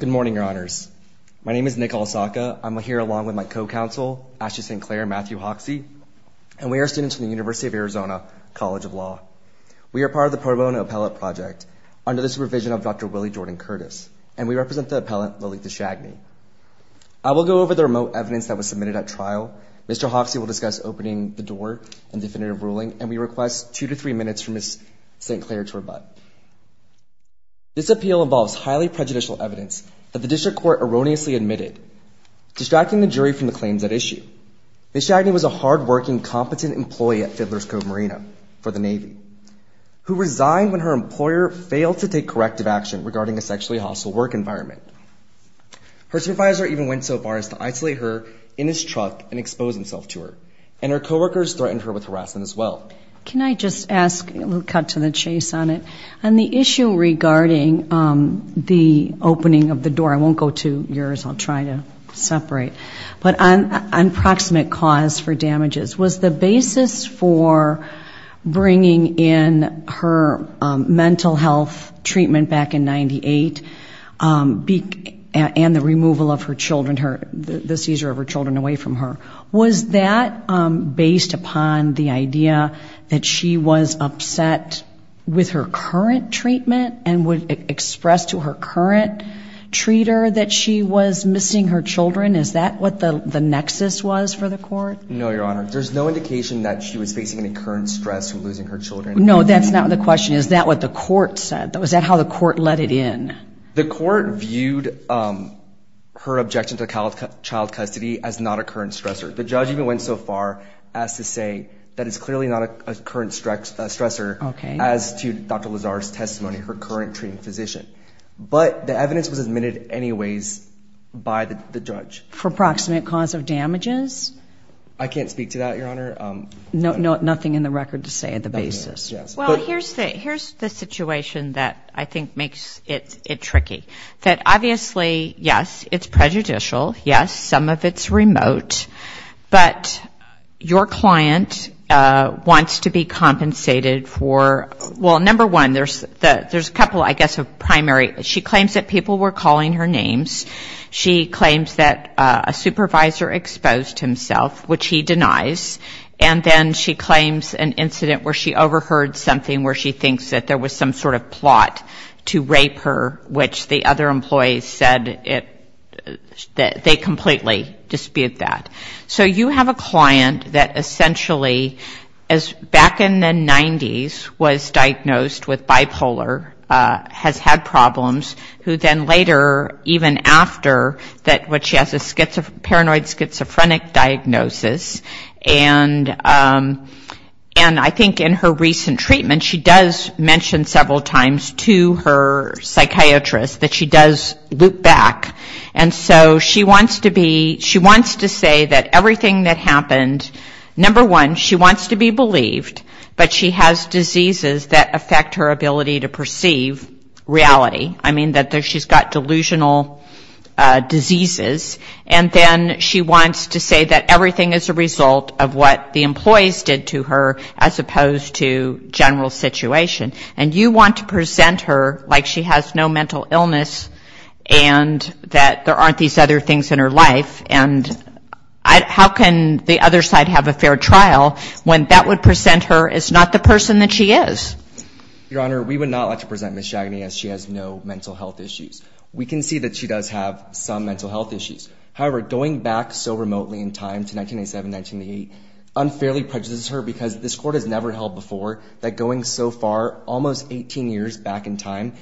Good morning, Your Honors. My name is Nick Olsaka. I'm here along with my co-counsel, Ashley St. Clair and Matthew Hoxie, and we are students from the University of Arizona College of Law. We are part of the Pro Bono Appellate Project under the supervision of Dr. Willie Jordan Curtis, and we represent the appellant, Lalitha Schagene. I will go over the remote evidence that was submitted at trial. Mr. Hoxie will discuss opening the door and definitive ruling, and we request two to three minutes for Ms. St. Clair to rebut. This appeal involves highly prejudicial evidence that the district court erroneously admitted, distracting the jury from the claims at issue. Ms. Schagene was a hard-working, competent employee at Fiddler's Cove Marina for the Navy who resigned when her employer failed to take corrective action regarding a sexually hostile work environment. Her supervisor even went so far as to isolate her in his truck and expose himself to her, and her coworkers threatened her with harassment as well. Can I just ask, a little cut to the chase on it, on the issue regarding the opening of the door. I won't go to yours. I'll try to separate. But on proximate cause for damages, was the basis for bringing in her mental health treatment back in 98, and the removal of her children, the seizure of her children away from her, was that based upon the idea that she was upset with her current treatment, and would express to her current treater that she was missing her children? Is that what the nexus was for the court? No, Your Honor. There's no indication that she was facing any current stress from losing her children. No, that's not the question. Is that what the court said? Was that how the court let it in? The court viewed her objection to child custody as not a current stressor. The judge even went so far as to say that it's clearly not a current stressor as to Dr. Lazar's testimony, her current treating physician. But the evidence was admitted anyways by the judge. For proximate cause of damages? I can't speak to that, Your Honor. Nothing in the record to say at the basis. Well, here's the situation that I think makes it tricky. That obviously, yes, it's prejudicial, yes, some of it's remote, but your client wants to be compensated for, well, number one, there's a couple, I guess, of primary. She claims that people were calling her names. She claims that a supervisor exposed himself, which he denies. And then she claims an incident where she overheard something where she thinks that there was some sort of plot to rape her, which the other employees said that they completely dispute that. So you have a client that essentially, back in the 90s, was diagnosed with bipolar, has had problems, who then later, even after, what she has is paranoid schizophrenic diagnosis, and I think in her recent treatment, she does mention several times to her psychiatrist that she does loop back. And so she wants to say that everything that happened, number one, she wants to be believed, but she has diseases that affect her ability to perceive reality. I mean that she's got delusional diseases. And then she wants to say that everything is a result of what the employees did to her as opposed to general situation. And you want to present her like she has no mental illness and that there aren't these other things in her life, and how can the other side have a fair trial when that would present her as not the person that she is? Your Honor, we would not like to present Ms. Chagny as she has no mental health issues. We can see that she does have some mental health issues. However, going back so remotely in time to 1987, 1988, unfairly prejudices her because this Court has never held before that going so far, almost 18 years back in time,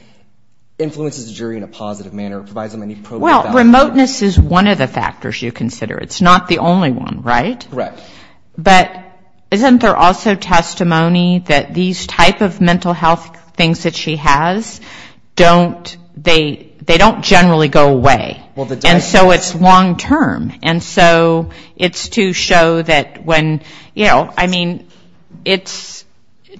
influences the jury in a positive manner. It provides them any probability that- Well, remoteness is one of the factors you consider. It's not the only one, right? Correct. But isn't there also testimony that these type of mental health things that she has, don't, they don't generally go away. And so it's long term. And so it's to show that when, you know, I mean, it's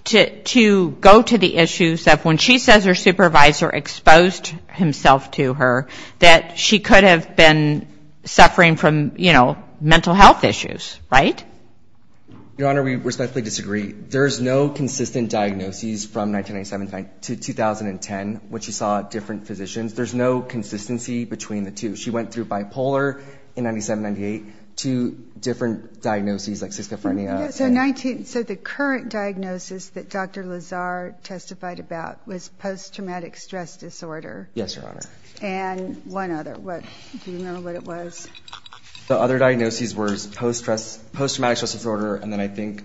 to go to the issues of when she says her supervisor exposed himself to her, that she could have been suffering from, you know, mental health issues, right? Your Honor, we respectfully disagree. There's no consistent diagnoses from 1997 to 2010 when she saw different physicians. There's no consistency between the two. She went through bipolar in 97, 98, two different diagnoses like schizophrenia. Yeah, so 19, so the current diagnosis that Dr. Lazar testified about was post-traumatic stress disorder. Yes, Your Honor. And one other. What, do you remember what it was? The other diagnoses were post-traumatic stress disorder and then I think-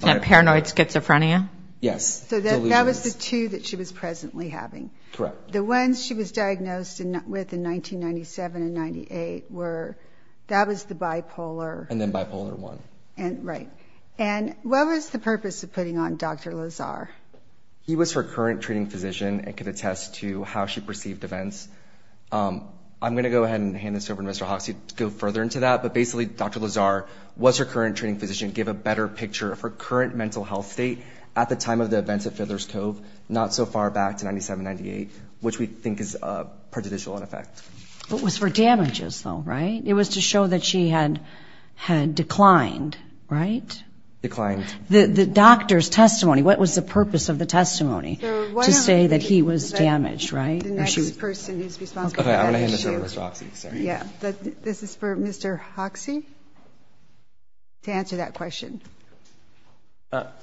Paranoid schizophrenia? Yes. So that was the two that she was presently having. Correct. The ones she was diagnosed with in 1997 and 98 were, that was the bipolar. And then bipolar one. And, right. And what was the purpose of putting on Dr. Lazar? He was her current treating physician and could attest to how she perceived events. I'm going to go ahead and hand this over to Mr. Hoxie to go further into that, but basically Dr. Lazar was her current treating physician, gave a better picture of her current mental health state at the time of the events of Fiddler's Cove, not so far back to 97, 98, which we think is prejudicial in effect. It was for damages though, right? It was to show that she had declined, right? Declined. The doctor's testimony, what was the purpose of the testimony to say that he was damaged, right? The next person who's responsible for that issue. Okay, I'm going to hand this over to Mr. Hoxie. Sorry. Yeah. This is for Mr. Hoxie to answer that question.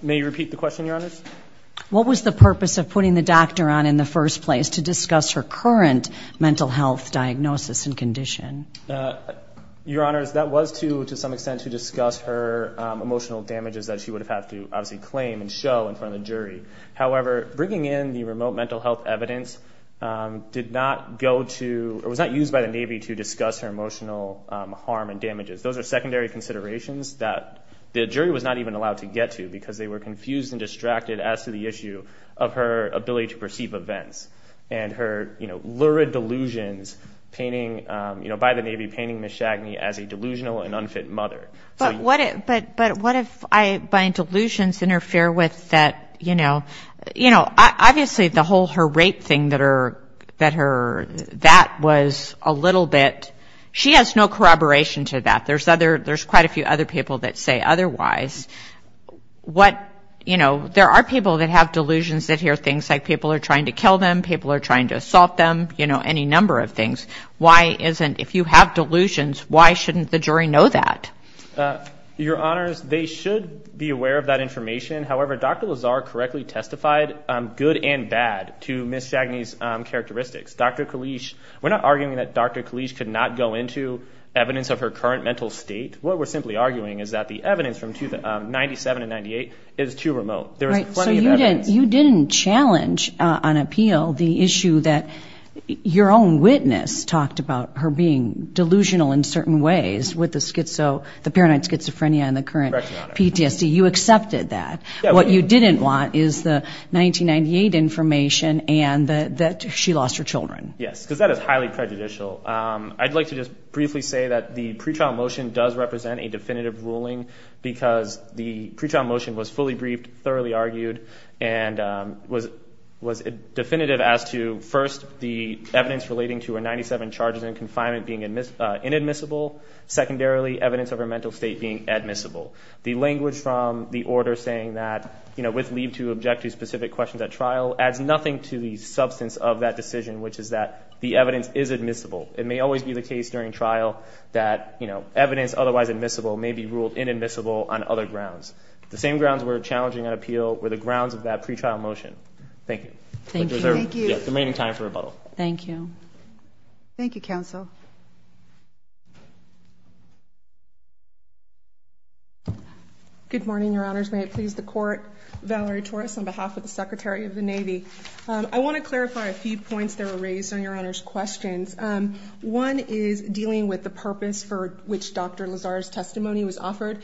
May you repeat the question, Your Honors? What was the purpose of putting the doctor on in the first place to discuss her current mental health diagnosis and condition? Your Honors, that was to, to some extent, to discuss her emotional damages that she would have had to obviously claim and show in front of the jury. However, bringing in the remote mental health evidence did not go to, or was not used by Navy to discuss her emotional harm and damages. Those are secondary considerations that the jury was not even allowed to get to because they were confused and distracted as to the issue of her ability to perceive events and her, you know, lurid delusions painting, you know, by the Navy painting Ms. Shagney as a delusional and unfit mother. But what if, but what if I, my delusions interfere with that, you know, you know, obviously the whole, her rape thing that her, that her, that was a little bit, she has no corroboration to that. There's other, there's quite a few other people that say otherwise. What you know, there are people that have delusions that hear things like people are trying to kill them, people are trying to assault them, you know, any number of things. Why isn't, if you have delusions, why shouldn't the jury know that? Your Honors, they should be aware of that information. However, Dr. Lazar correctly testified good and bad to Ms. Shagney's characteristics. Dr. Kalish, we're not arguing that Dr. Kalish could not go into evidence of her current mental state. What we're simply arguing is that the evidence from 97 and 98 is too remote. There was plenty of evidence. So you didn't, you didn't challenge on appeal the issue that your own witness talked about her being delusional in certain ways with the schizo, the paranoid schizophrenia and the current PTSD. You accepted that. What you didn't want is the 1998 information and that she lost her children. Yes, because that is highly prejudicial. I'd like to just briefly say that the pretrial motion does represent a definitive ruling because the pretrial motion was fully briefed, thoroughly argued, and was definitive as to first the evidence relating to her 97 charges in confinement being inadmissible, secondarily evidence of her mental state being admissible. The language from the order saying that, you know, with leave to object to specific questions at trial adds nothing to the substance of that decision, which is that the evidence is admissible. It may always be the case during trial that, you know, evidence otherwise admissible may be ruled inadmissible on other grounds. The same grounds we're challenging on appeal were the grounds of that pretrial motion. Thank you. Thank you. Thank you. Remaining time for rebuttal. Thank you. Good morning, Your Honors. May it please the Court. Valerie Torres on behalf of the Secretary of the Navy. I want to clarify a few points that were raised on Your Honor's questions. One is dealing with the purpose for which Dr. Lazar's testimony was offered.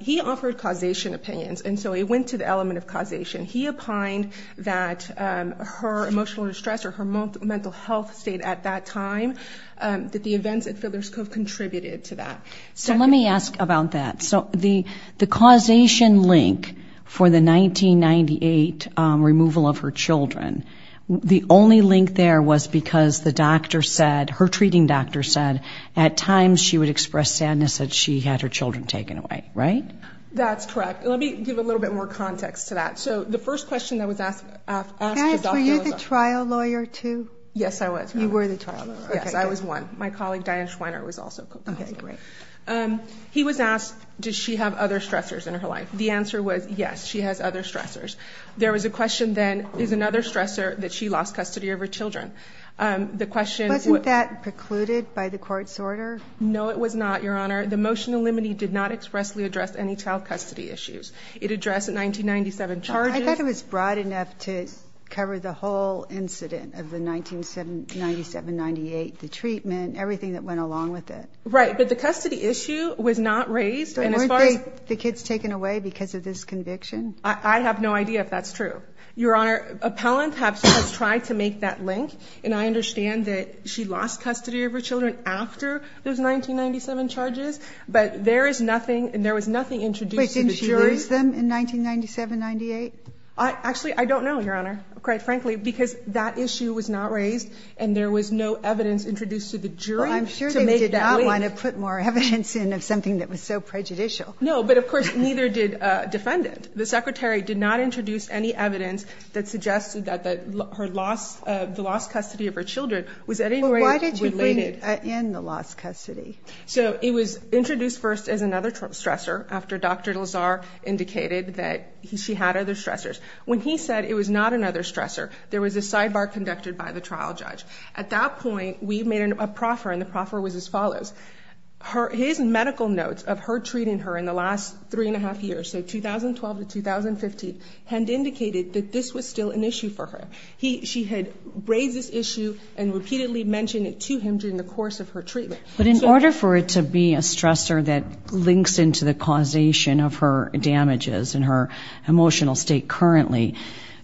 He offered causation opinions, and so it went to the element of causation. He opined that her emotional distress or her mental health state at that time, that the events at Fiddler's Cove contributed to that. So let me ask about that. So the causation link for the 1998 removal of her children, the only link there was because the doctor said, her treating doctor said, at times she would express sadness that she had her children taken away, right? That's correct. Let me give a little bit more context to that. So the first question that was asked to Dr. Lazar. Paris, were you the trial lawyer too? Yes, I was. You were the trial lawyer. Yes, I was one. My colleague, Diane Schweiner, was also the trial lawyer. Okay, great. He was asked, does she have other stressors in her life? The answer was, yes, she has other stressors. There was a question then, is another stressor that she lost custody of her children? The question- Wasn't that precluded by the court's order? No, it was not, Your Honor. The motion to eliminate did not expressly address any child custody issues. It addressed 1997 charges. I thought it was broad enough to cover the whole incident of the 1997-98, the treatment, everything that went along with it. Right. But the custody issue was not raised. And as far as- Weren't they, the kids taken away because of this conviction? I have no idea if that's true. Your Honor, appellant has tried to make that link. And I understand that she lost custody of her children after those 1997 charges. But there is nothing, and there was nothing introduced to the jury- Wait, didn't she lose them in 1997-98? Actually, I don't know, Your Honor, quite frankly, because that issue was not raised and there was no evidence introduced to the jury to make that claim. I don't want to put more evidence in of something that was so prejudicial. No, but of course, neither did defendant. The secretary did not introduce any evidence that suggested that the lost custody of her children was at any rate related- Well, why did you bring in the lost custody? So it was introduced first as another stressor after Dr. Lazar indicated that she had other stressors. When he said it was not another stressor, there was a sidebar conducted by the trial judge. At that point, we made a proffer and the proffer was as follows. His medical notes of her treating her in the last three and a half years, so 2012 to 2015, had indicated that this was still an issue for her. She had raised this issue and repeatedly mentioned it to him during the course of her treatment. But in order for it to be a stressor that links into the causation of her damages and her emotional state currently,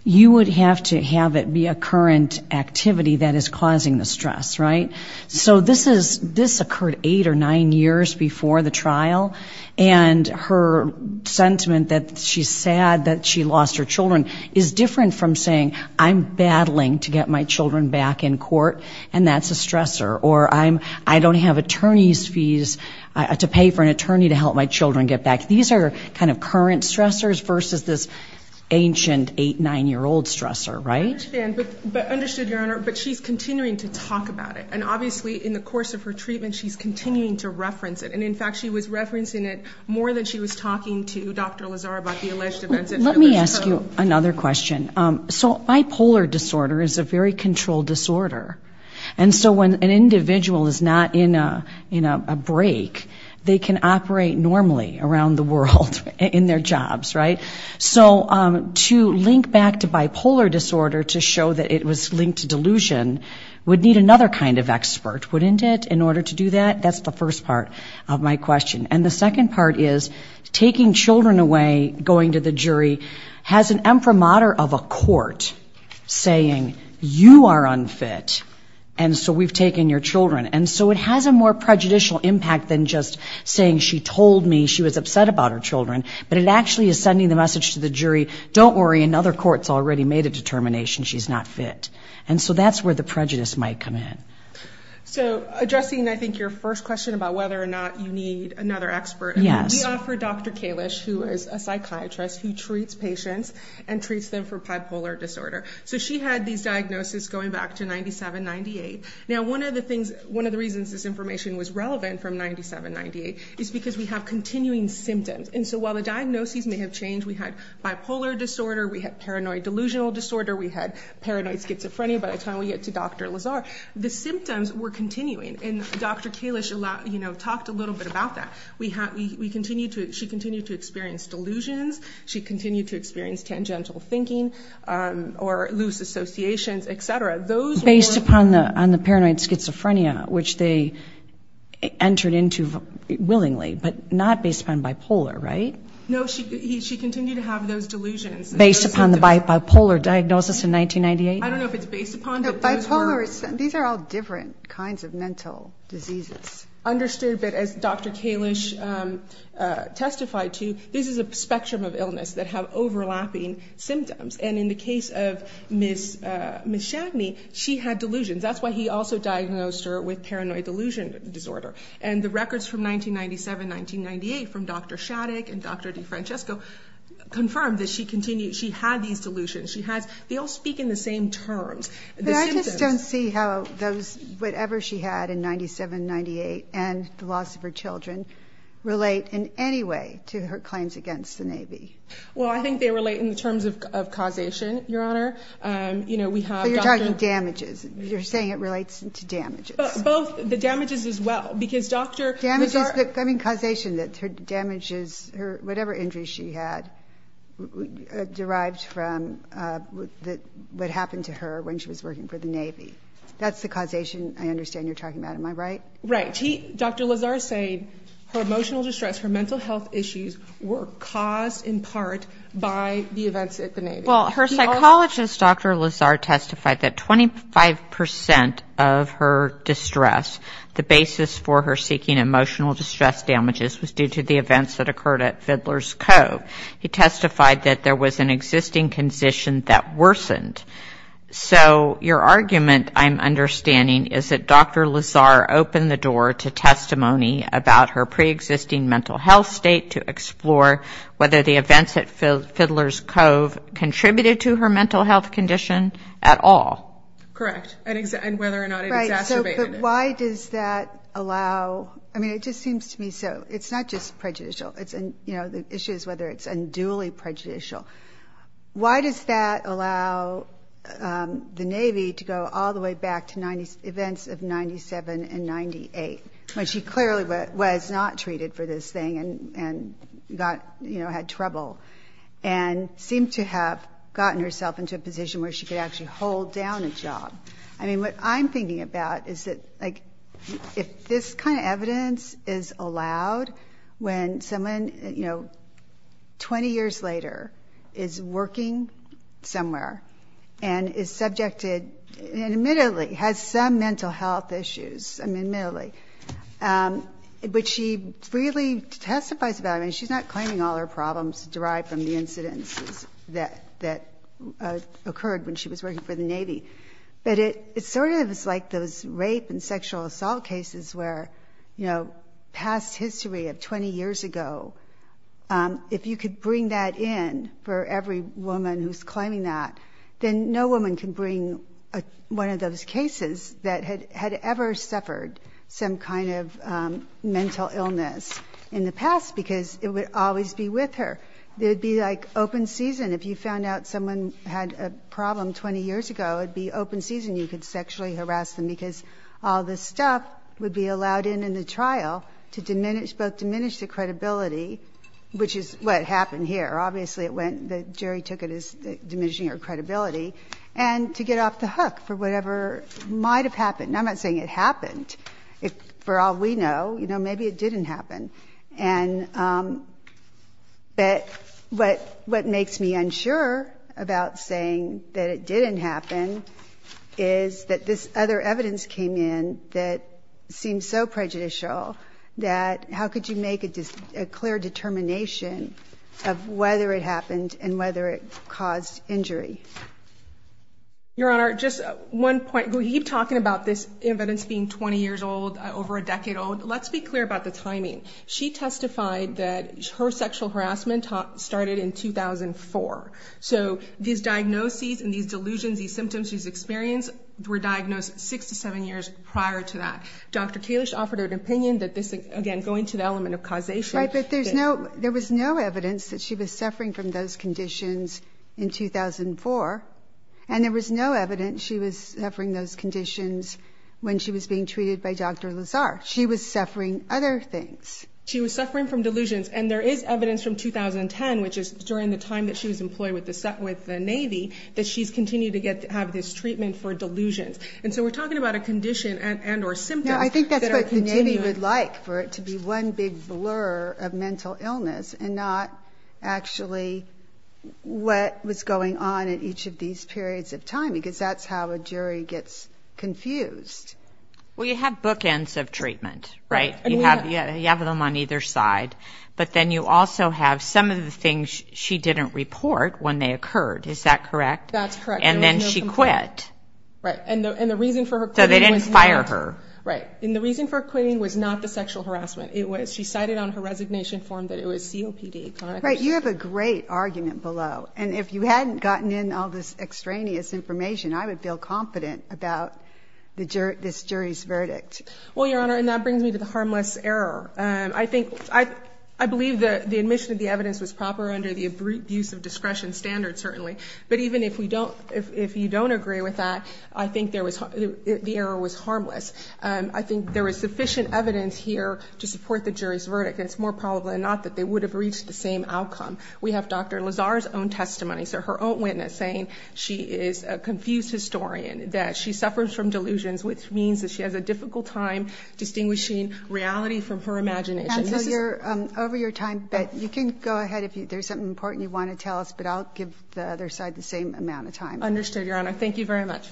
you would have to have it be a current activity that is causing the stress, right? So this occurred eight or nine years before the trial and her sentiment that she's sad that she lost her children is different from saying, I'm battling to get my children back in court and that's a stressor. Or I don't have attorney's fees to pay for an attorney to help my children get back. These are kind of current stressors versus this ancient eight, nine-year-old stressor, right? So I understand, but understood, Your Honor, but she's continuing to talk about it and obviously in the course of her treatment, she's continuing to reference it and in fact, she was referencing it more than she was talking to Dr. Lazar about the alleged events. Let me ask you another question. So bipolar disorder is a very controlled disorder and so when an individual is not in a break, they can operate normally around the world in their jobs, right? So to link back to bipolar disorder to show that it was linked to delusion would need another kind of expert, wouldn't it, in order to do that? That's the first part of my question. And the second part is taking children away, going to the jury has an imprimatur of a court saying you are unfit and so we've taken your children. And so it has a more prejudicial impact than just saying she told me she was upset about her children, but it actually is sending the message to the jury, don't worry, another court's already made a determination, she's not fit. And so that's where the prejudice might come in. So addressing, I think, your first question about whether or not you need another expert, we offer Dr. Kalish, who is a psychiatrist who treats patients and treats them for bipolar disorder. So she had these diagnoses going back to 97-98. Now one of the things, one of the reasons this information was relevant from 97-98 is because we have continuing symptoms. And so while the diagnoses may have changed, we had bipolar disorder, we had paranoid delusional disorder, we had paranoid schizophrenia by the time we get to Dr. Lazar, the symptoms were continuing. And Dr. Kalish talked a little bit about that. She continued to experience delusions, she continued to experience tangential thinking or loose associations, et cetera. Based upon the paranoid schizophrenia, which they entered into willingly, but not based upon bipolar, right? No, she continued to have those delusions. Based upon the bipolar diagnosis in 1998? I don't know if it's based upon it. These are all different kinds of mental diseases. Understood, but as Dr. Kalish testified to, this is a spectrum of illness that have overlapping symptoms. And in the case of Ms. Shadney, she had delusions. That's why he also diagnosed her with paranoid delusion disorder. And the records from 1997-1998 from Dr. Shaddick and Dr. DeFrancesco confirmed that she continued, she had these delusions. She has, they all speak in the same terms. But I just don't see how those, whatever she had in 97-98 and the loss of her children relate in any way to her claims against the Navy. Well, I think they relate in terms of causation, Your Honor. You know, we have- So you're talking damages. You're saying it relates to damages. Both. The damages as well. Because Dr. Lazar- Damages. I mean, causation. That her damages, whatever injuries she had, derived from what happened to her when she was working for the Navy. That's the causation I understand you're talking about, am I right? Right. Dr. Lazar said her emotional distress, her mental health issues were caused in part by the events at the Navy. Well, her psychologist, Dr. Lazar, testified that 25% of her distress, the basis for her seeking emotional distress damages was due to the events that occurred at Fiddler's Cove. He testified that there was an existing condition that worsened. So, your argument, I'm understanding, is that Dr. Lazar opened the door to testimony about her pre-existing mental health state to explore whether the events at Fiddler's Cove contributed to her mental health condition at all. Correct. And whether or not it exacerbated it. Right. So, but why does that allow- I mean, it just seems to me so. It's not just prejudicial. It's, you know, the issue is whether it's unduly prejudicial. Why does that allow the Navy to go all the way back to events of 97 and 98, when she clearly was not treated for this thing and got, you know, had trouble and seemed to have gotten herself into a position where she could actually hold down a job? I mean, what I'm thinking about is that, like, if this kind of evidence is allowed when someone, you know, 20 years later is working somewhere and is subjected, and admittedly has some mental health issues, I mean, admittedly, but she freely testifies about it, I mean, she's not claiming all her problems derived from the incidences that occurred when she was working for the Navy, but it sort of is like those rape and sexual assault cases where, you know, past history of 20 years ago, if you could bring that in for every woman who's claiming that, then no woman can bring one of those cases that had ever suffered some kind of mental illness in the past because it would always be with her. It would be like open season. If you found out someone had a problem 20 years ago, it'd be open season. You could sexually harass them because all this stuff would be allowed in in the trial to diminish, both diminish the credibility, which is what happened here, obviously it went, the jury took it as diminishing her credibility, and to get off the hook for whatever might have happened. I'm not saying it happened. For all we know, you know, maybe it didn't happen, but what makes me unsure about saying that it didn't happen is that this other evidence came in that seems so prejudicial that how could you make a clear determination of whether it happened and whether it caused injury? Your Honor, just one point. We keep talking about this evidence being 20 years old, over a decade old. Let's be clear about the timing. She testified that her sexual harassment started in 2004. So these diagnoses and these delusions, these symptoms, these experiences were diagnosed six to seven years prior to that. Dr. Kalish offered an opinion that this, again, going to the element of causation. Right, but there was no evidence that she was suffering from those conditions in 2004, and there was no evidence she was suffering those conditions when she was being treated by Dr. Lazar. She was suffering other things. She was suffering from delusions, and there is evidence from 2010, which is during the time that she was employed with the Navy, that she's continued to have this treatment for delusions. And so we're talking about a condition and or symptoms that are continuing. Now, I think that's what the Navy would like, for it to be one big blur of mental illness and not actually what was going on in each of these periods of time, because that's how a jury gets confused. Well, you have bookends of treatment, right? You have them on either side, but then you also have some of the things she didn't report when they occurred. Is that correct? That's correct. And then she quit. Right. And the reason for her quitting was not... So they didn't fire her. Right. And the reason for quitting was not the sexual harassment. It was she cited on her resignation form that it was COPD, correct? Right. You have a great argument below, and if you hadn't gotten in all this extraneous information, I would feel confident about this jury's verdict. Well, Your Honor, and that brings me to the harmless error. I think... I believe that the admission of the evidence was proper under the abuse of discretion standard, certainly. But even if you don't agree with that, I think the error was harmless. I think there was sufficient evidence here to support the jury's verdict, and it's more probable than not that they would have reached the same outcome. We have Dr. Lazar's own testimony, so her own witness, saying she is a confused historian, that she suffers from delusions, which means that she has a difficult time distinguishing reality from her imagination. Counsel, you're over your time, but you can go ahead if there's something important you want to tell us, but I'll give the other side the same amount of time. Understood, Your Honor. Thank you very much.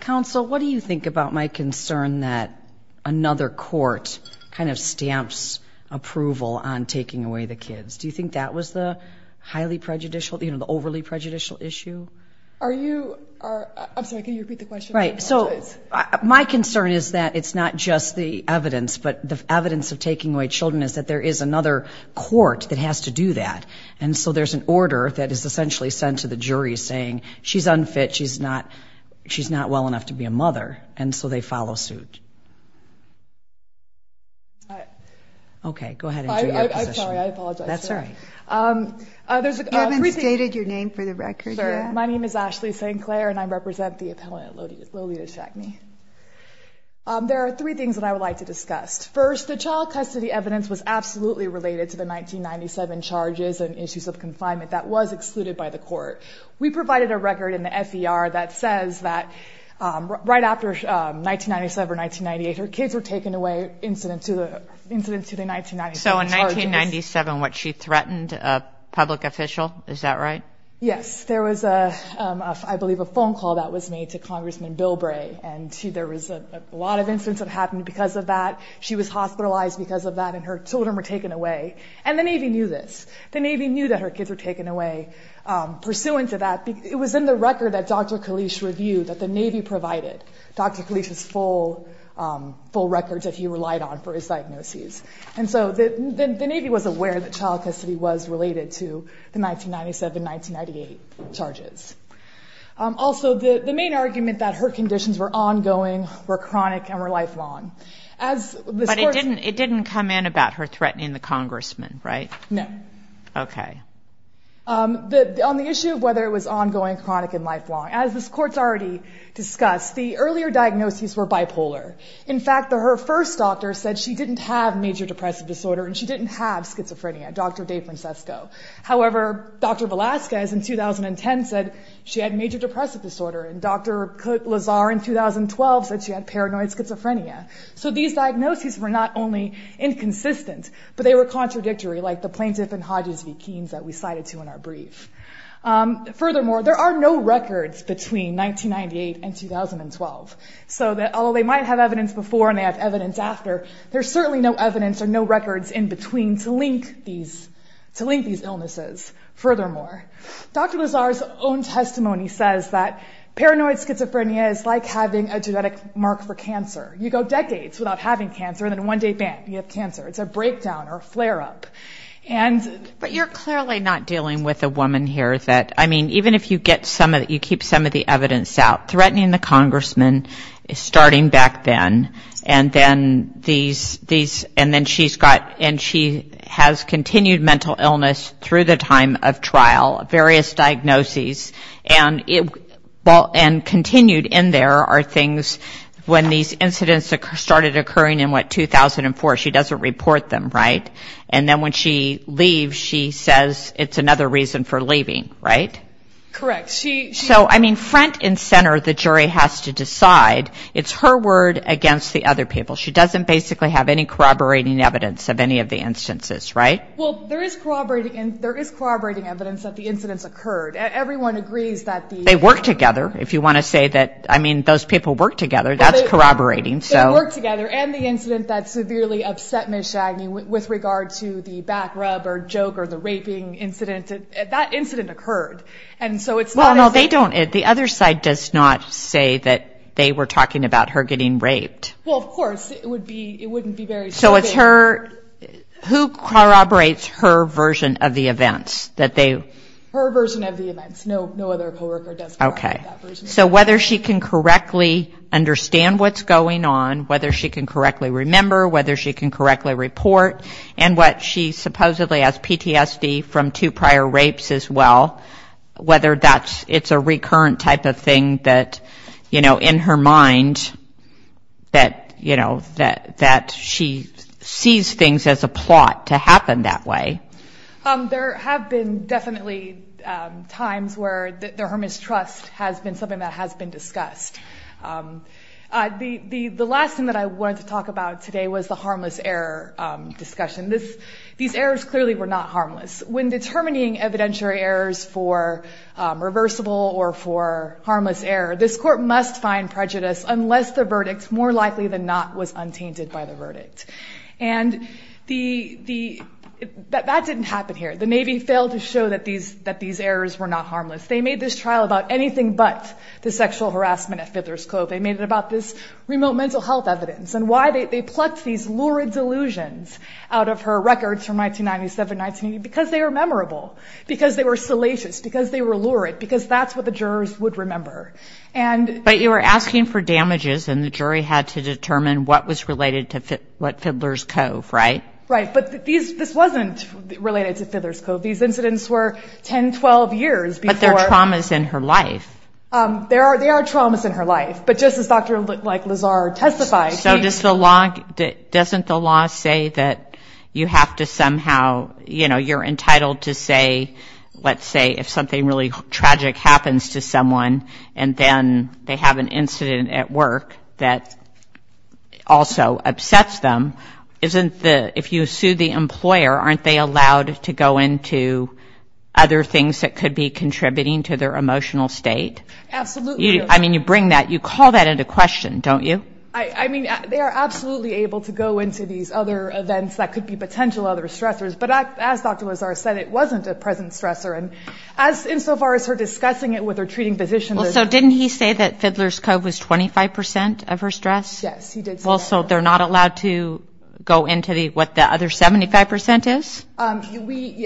Counsel, what do you think about my concern that another court kind of stamps approval on taking away the kids? Do you think that was the highly prejudicial, you know, the overly prejudicial issue? Are you... I'm sorry, can you repeat the question? Right. So, my concern is that it's not just the evidence, but the evidence of taking away children is that there is another court that has to do that, and so there's an order that is essentially sent to the jury saying, she's unfit, she's not well enough to be a mother, and so they follow suit. All right. Okay. Go ahead and do your position. I'm sorry. I apologize. That's all right. You haven't stated your name for the record yet. My name is Ashley St. Clair, and I represent the appellant Lolita Shackney. There are three things that I would like to discuss. First, the child custody evidence was absolutely related to the 1997 charges and issues of confinement that was excluded by the court. We provided a record in the FDR that says that right after 1997 or 1998, her kids were taken away incident to the 1997 charges. So in 1997, what, she threatened a public official? Is that right? Yes. There was, I believe, a phone call that was made to Congressman Bill Bray, and there was a lot of incidents that happened because of that. She was hospitalized because of that, and her children were taken away, and the Navy knew this. The Navy knew that her kids were taken away pursuant to that. It was in the record that Dr. Kalish reviewed that the Navy provided, Dr. Kalish's full records that he relied on for his diagnoses. And so the Navy was aware that child custody was related to the 1997, 1998 charges. Also the main argument that her conditions were ongoing, were chronic, and were lifelong. As this court- But it didn't come in about her threatening the congressman, right? No. Okay. On the issue of whether it was ongoing, chronic, and lifelong, as this court's already discussed, the earlier diagnoses were bipolar. In fact, her first doctor said she didn't have major depressive disorder, and she didn't have schizophrenia. Dr. Dave Francesco. However, Dr. Velasquez in 2010 said she had major depressive disorder, and Dr. Cooke-Lazar in 2012 said she had paranoid schizophrenia. So these diagnoses were not only inconsistent, but they were contradictory, like the Plaintiff and Hodges v. Keynes that we cited to in our brief. Furthermore, there are no records between 1998 and 2012. So although they might have evidence before and they have evidence after, there's certainly no evidence or no records in between to link these illnesses. Furthermore, Dr. Lazar's own testimony says that paranoid schizophrenia is like having a genetic mark for cancer. You go decades without having cancer, and then one day, bam, you have cancer. It's a breakdown or a flare-up. But you're clearly not dealing with a woman here that, I mean, even if you get some of it, you keep some of the evidence out, threatening the congressman, starting back then, and then these, and then she's got, and she has continued mental illness through the time of trial, various diagnoses, and continued in there are things, when these incidents started occurring in what, 2004, she doesn't report them, right? And then when she leaves, she says it's another reason for leaving, right? Correct. She... So, I mean, front and center, the jury has to decide. It's her word against the other people. She doesn't basically have any corroborating evidence of any of the instances, right? Well, there is corroborating evidence that the incidents occurred. Everyone agrees that the... They work together. If you want to say that, I mean, those people work together, that's corroborating, so... With regard to the back rub, or joke, or the raping incident, that incident occurred, and so it's not... Well, no, they don't... The other side does not say that they were talking about her getting raped. Well, of course, it would be... It wouldn't be very... So, it's her... Who corroborates her version of the events that they... Her version of the events. No other co-worker does corroborate that version. Okay. So, whether she can correctly understand what's going on, whether she can correctly remember, whether she can correctly report, and what she supposedly has PTSD from two prior rapes as well, whether that's... It's a recurrent type of thing that, you know, in her mind that, you know, that she sees things as a plot to happen that way. There have been definitely times where her mistrust has been something that has been discussed. The last thing that I wanted to talk about today was the harmless error discussion. These errors clearly were not harmless. When determining evidentiary errors for reversible or for harmless error, this court must find prejudice unless the verdict, more likely than not, was untainted by the verdict. And the... That didn't happen here. The Navy failed to show that these errors were not harmless. They made this trial about anything but the sexual harassment at Fiddler's Cove. They made it about this remote mental health evidence and why they plucked these lurid delusions out of her records from 1997, 1980, because they were memorable, because they were salacious, because they were lurid, because that's what the jurors would remember. And... But you were asking for damages and the jury had to determine what was related to Fiddler's Cove, right? But these... This wasn't related to Fiddler's Cove. These incidents were 10, 12 years before... But there are traumas in her life. There are traumas in her life. But just as Dr. Lazar testified... So does the law... Doesn't the law say that you have to somehow... You're entitled to say, let's say, if something really tragic happens to someone and then they have an incident at work that also upsets them, isn't the... They're not allowed to go into other things that could be contributing to their emotional state? Absolutely. I mean, you bring that... You call that into question, don't you? I mean, they are absolutely able to go into these other events that could be potential other stressors. But as Dr. Lazar said, it wasn't a present stressor and insofar as her discussing it with her treating physician... Well, so didn't he say that Fiddler's Cove was 25% of her stress? Yes, he did say that. Well, so they're not allowed to go into what the other 75% is?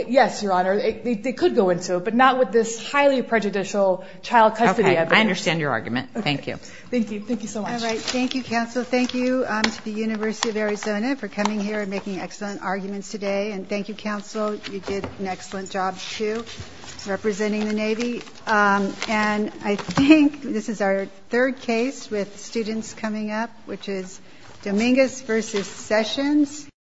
Yes, Your Honor, they could go into it, but not with this highly prejudicial child custody evidence. I understand your argument. Thank you. Thank you. Thank you so much. All right. Thank you, counsel. Thank you to the University of Arizona for coming here and making excellent arguments today. And thank you, counsel. You did an excellent job, too, representing the Navy. And I think this is our third case with students coming up, which is Dominguez versus Sessions.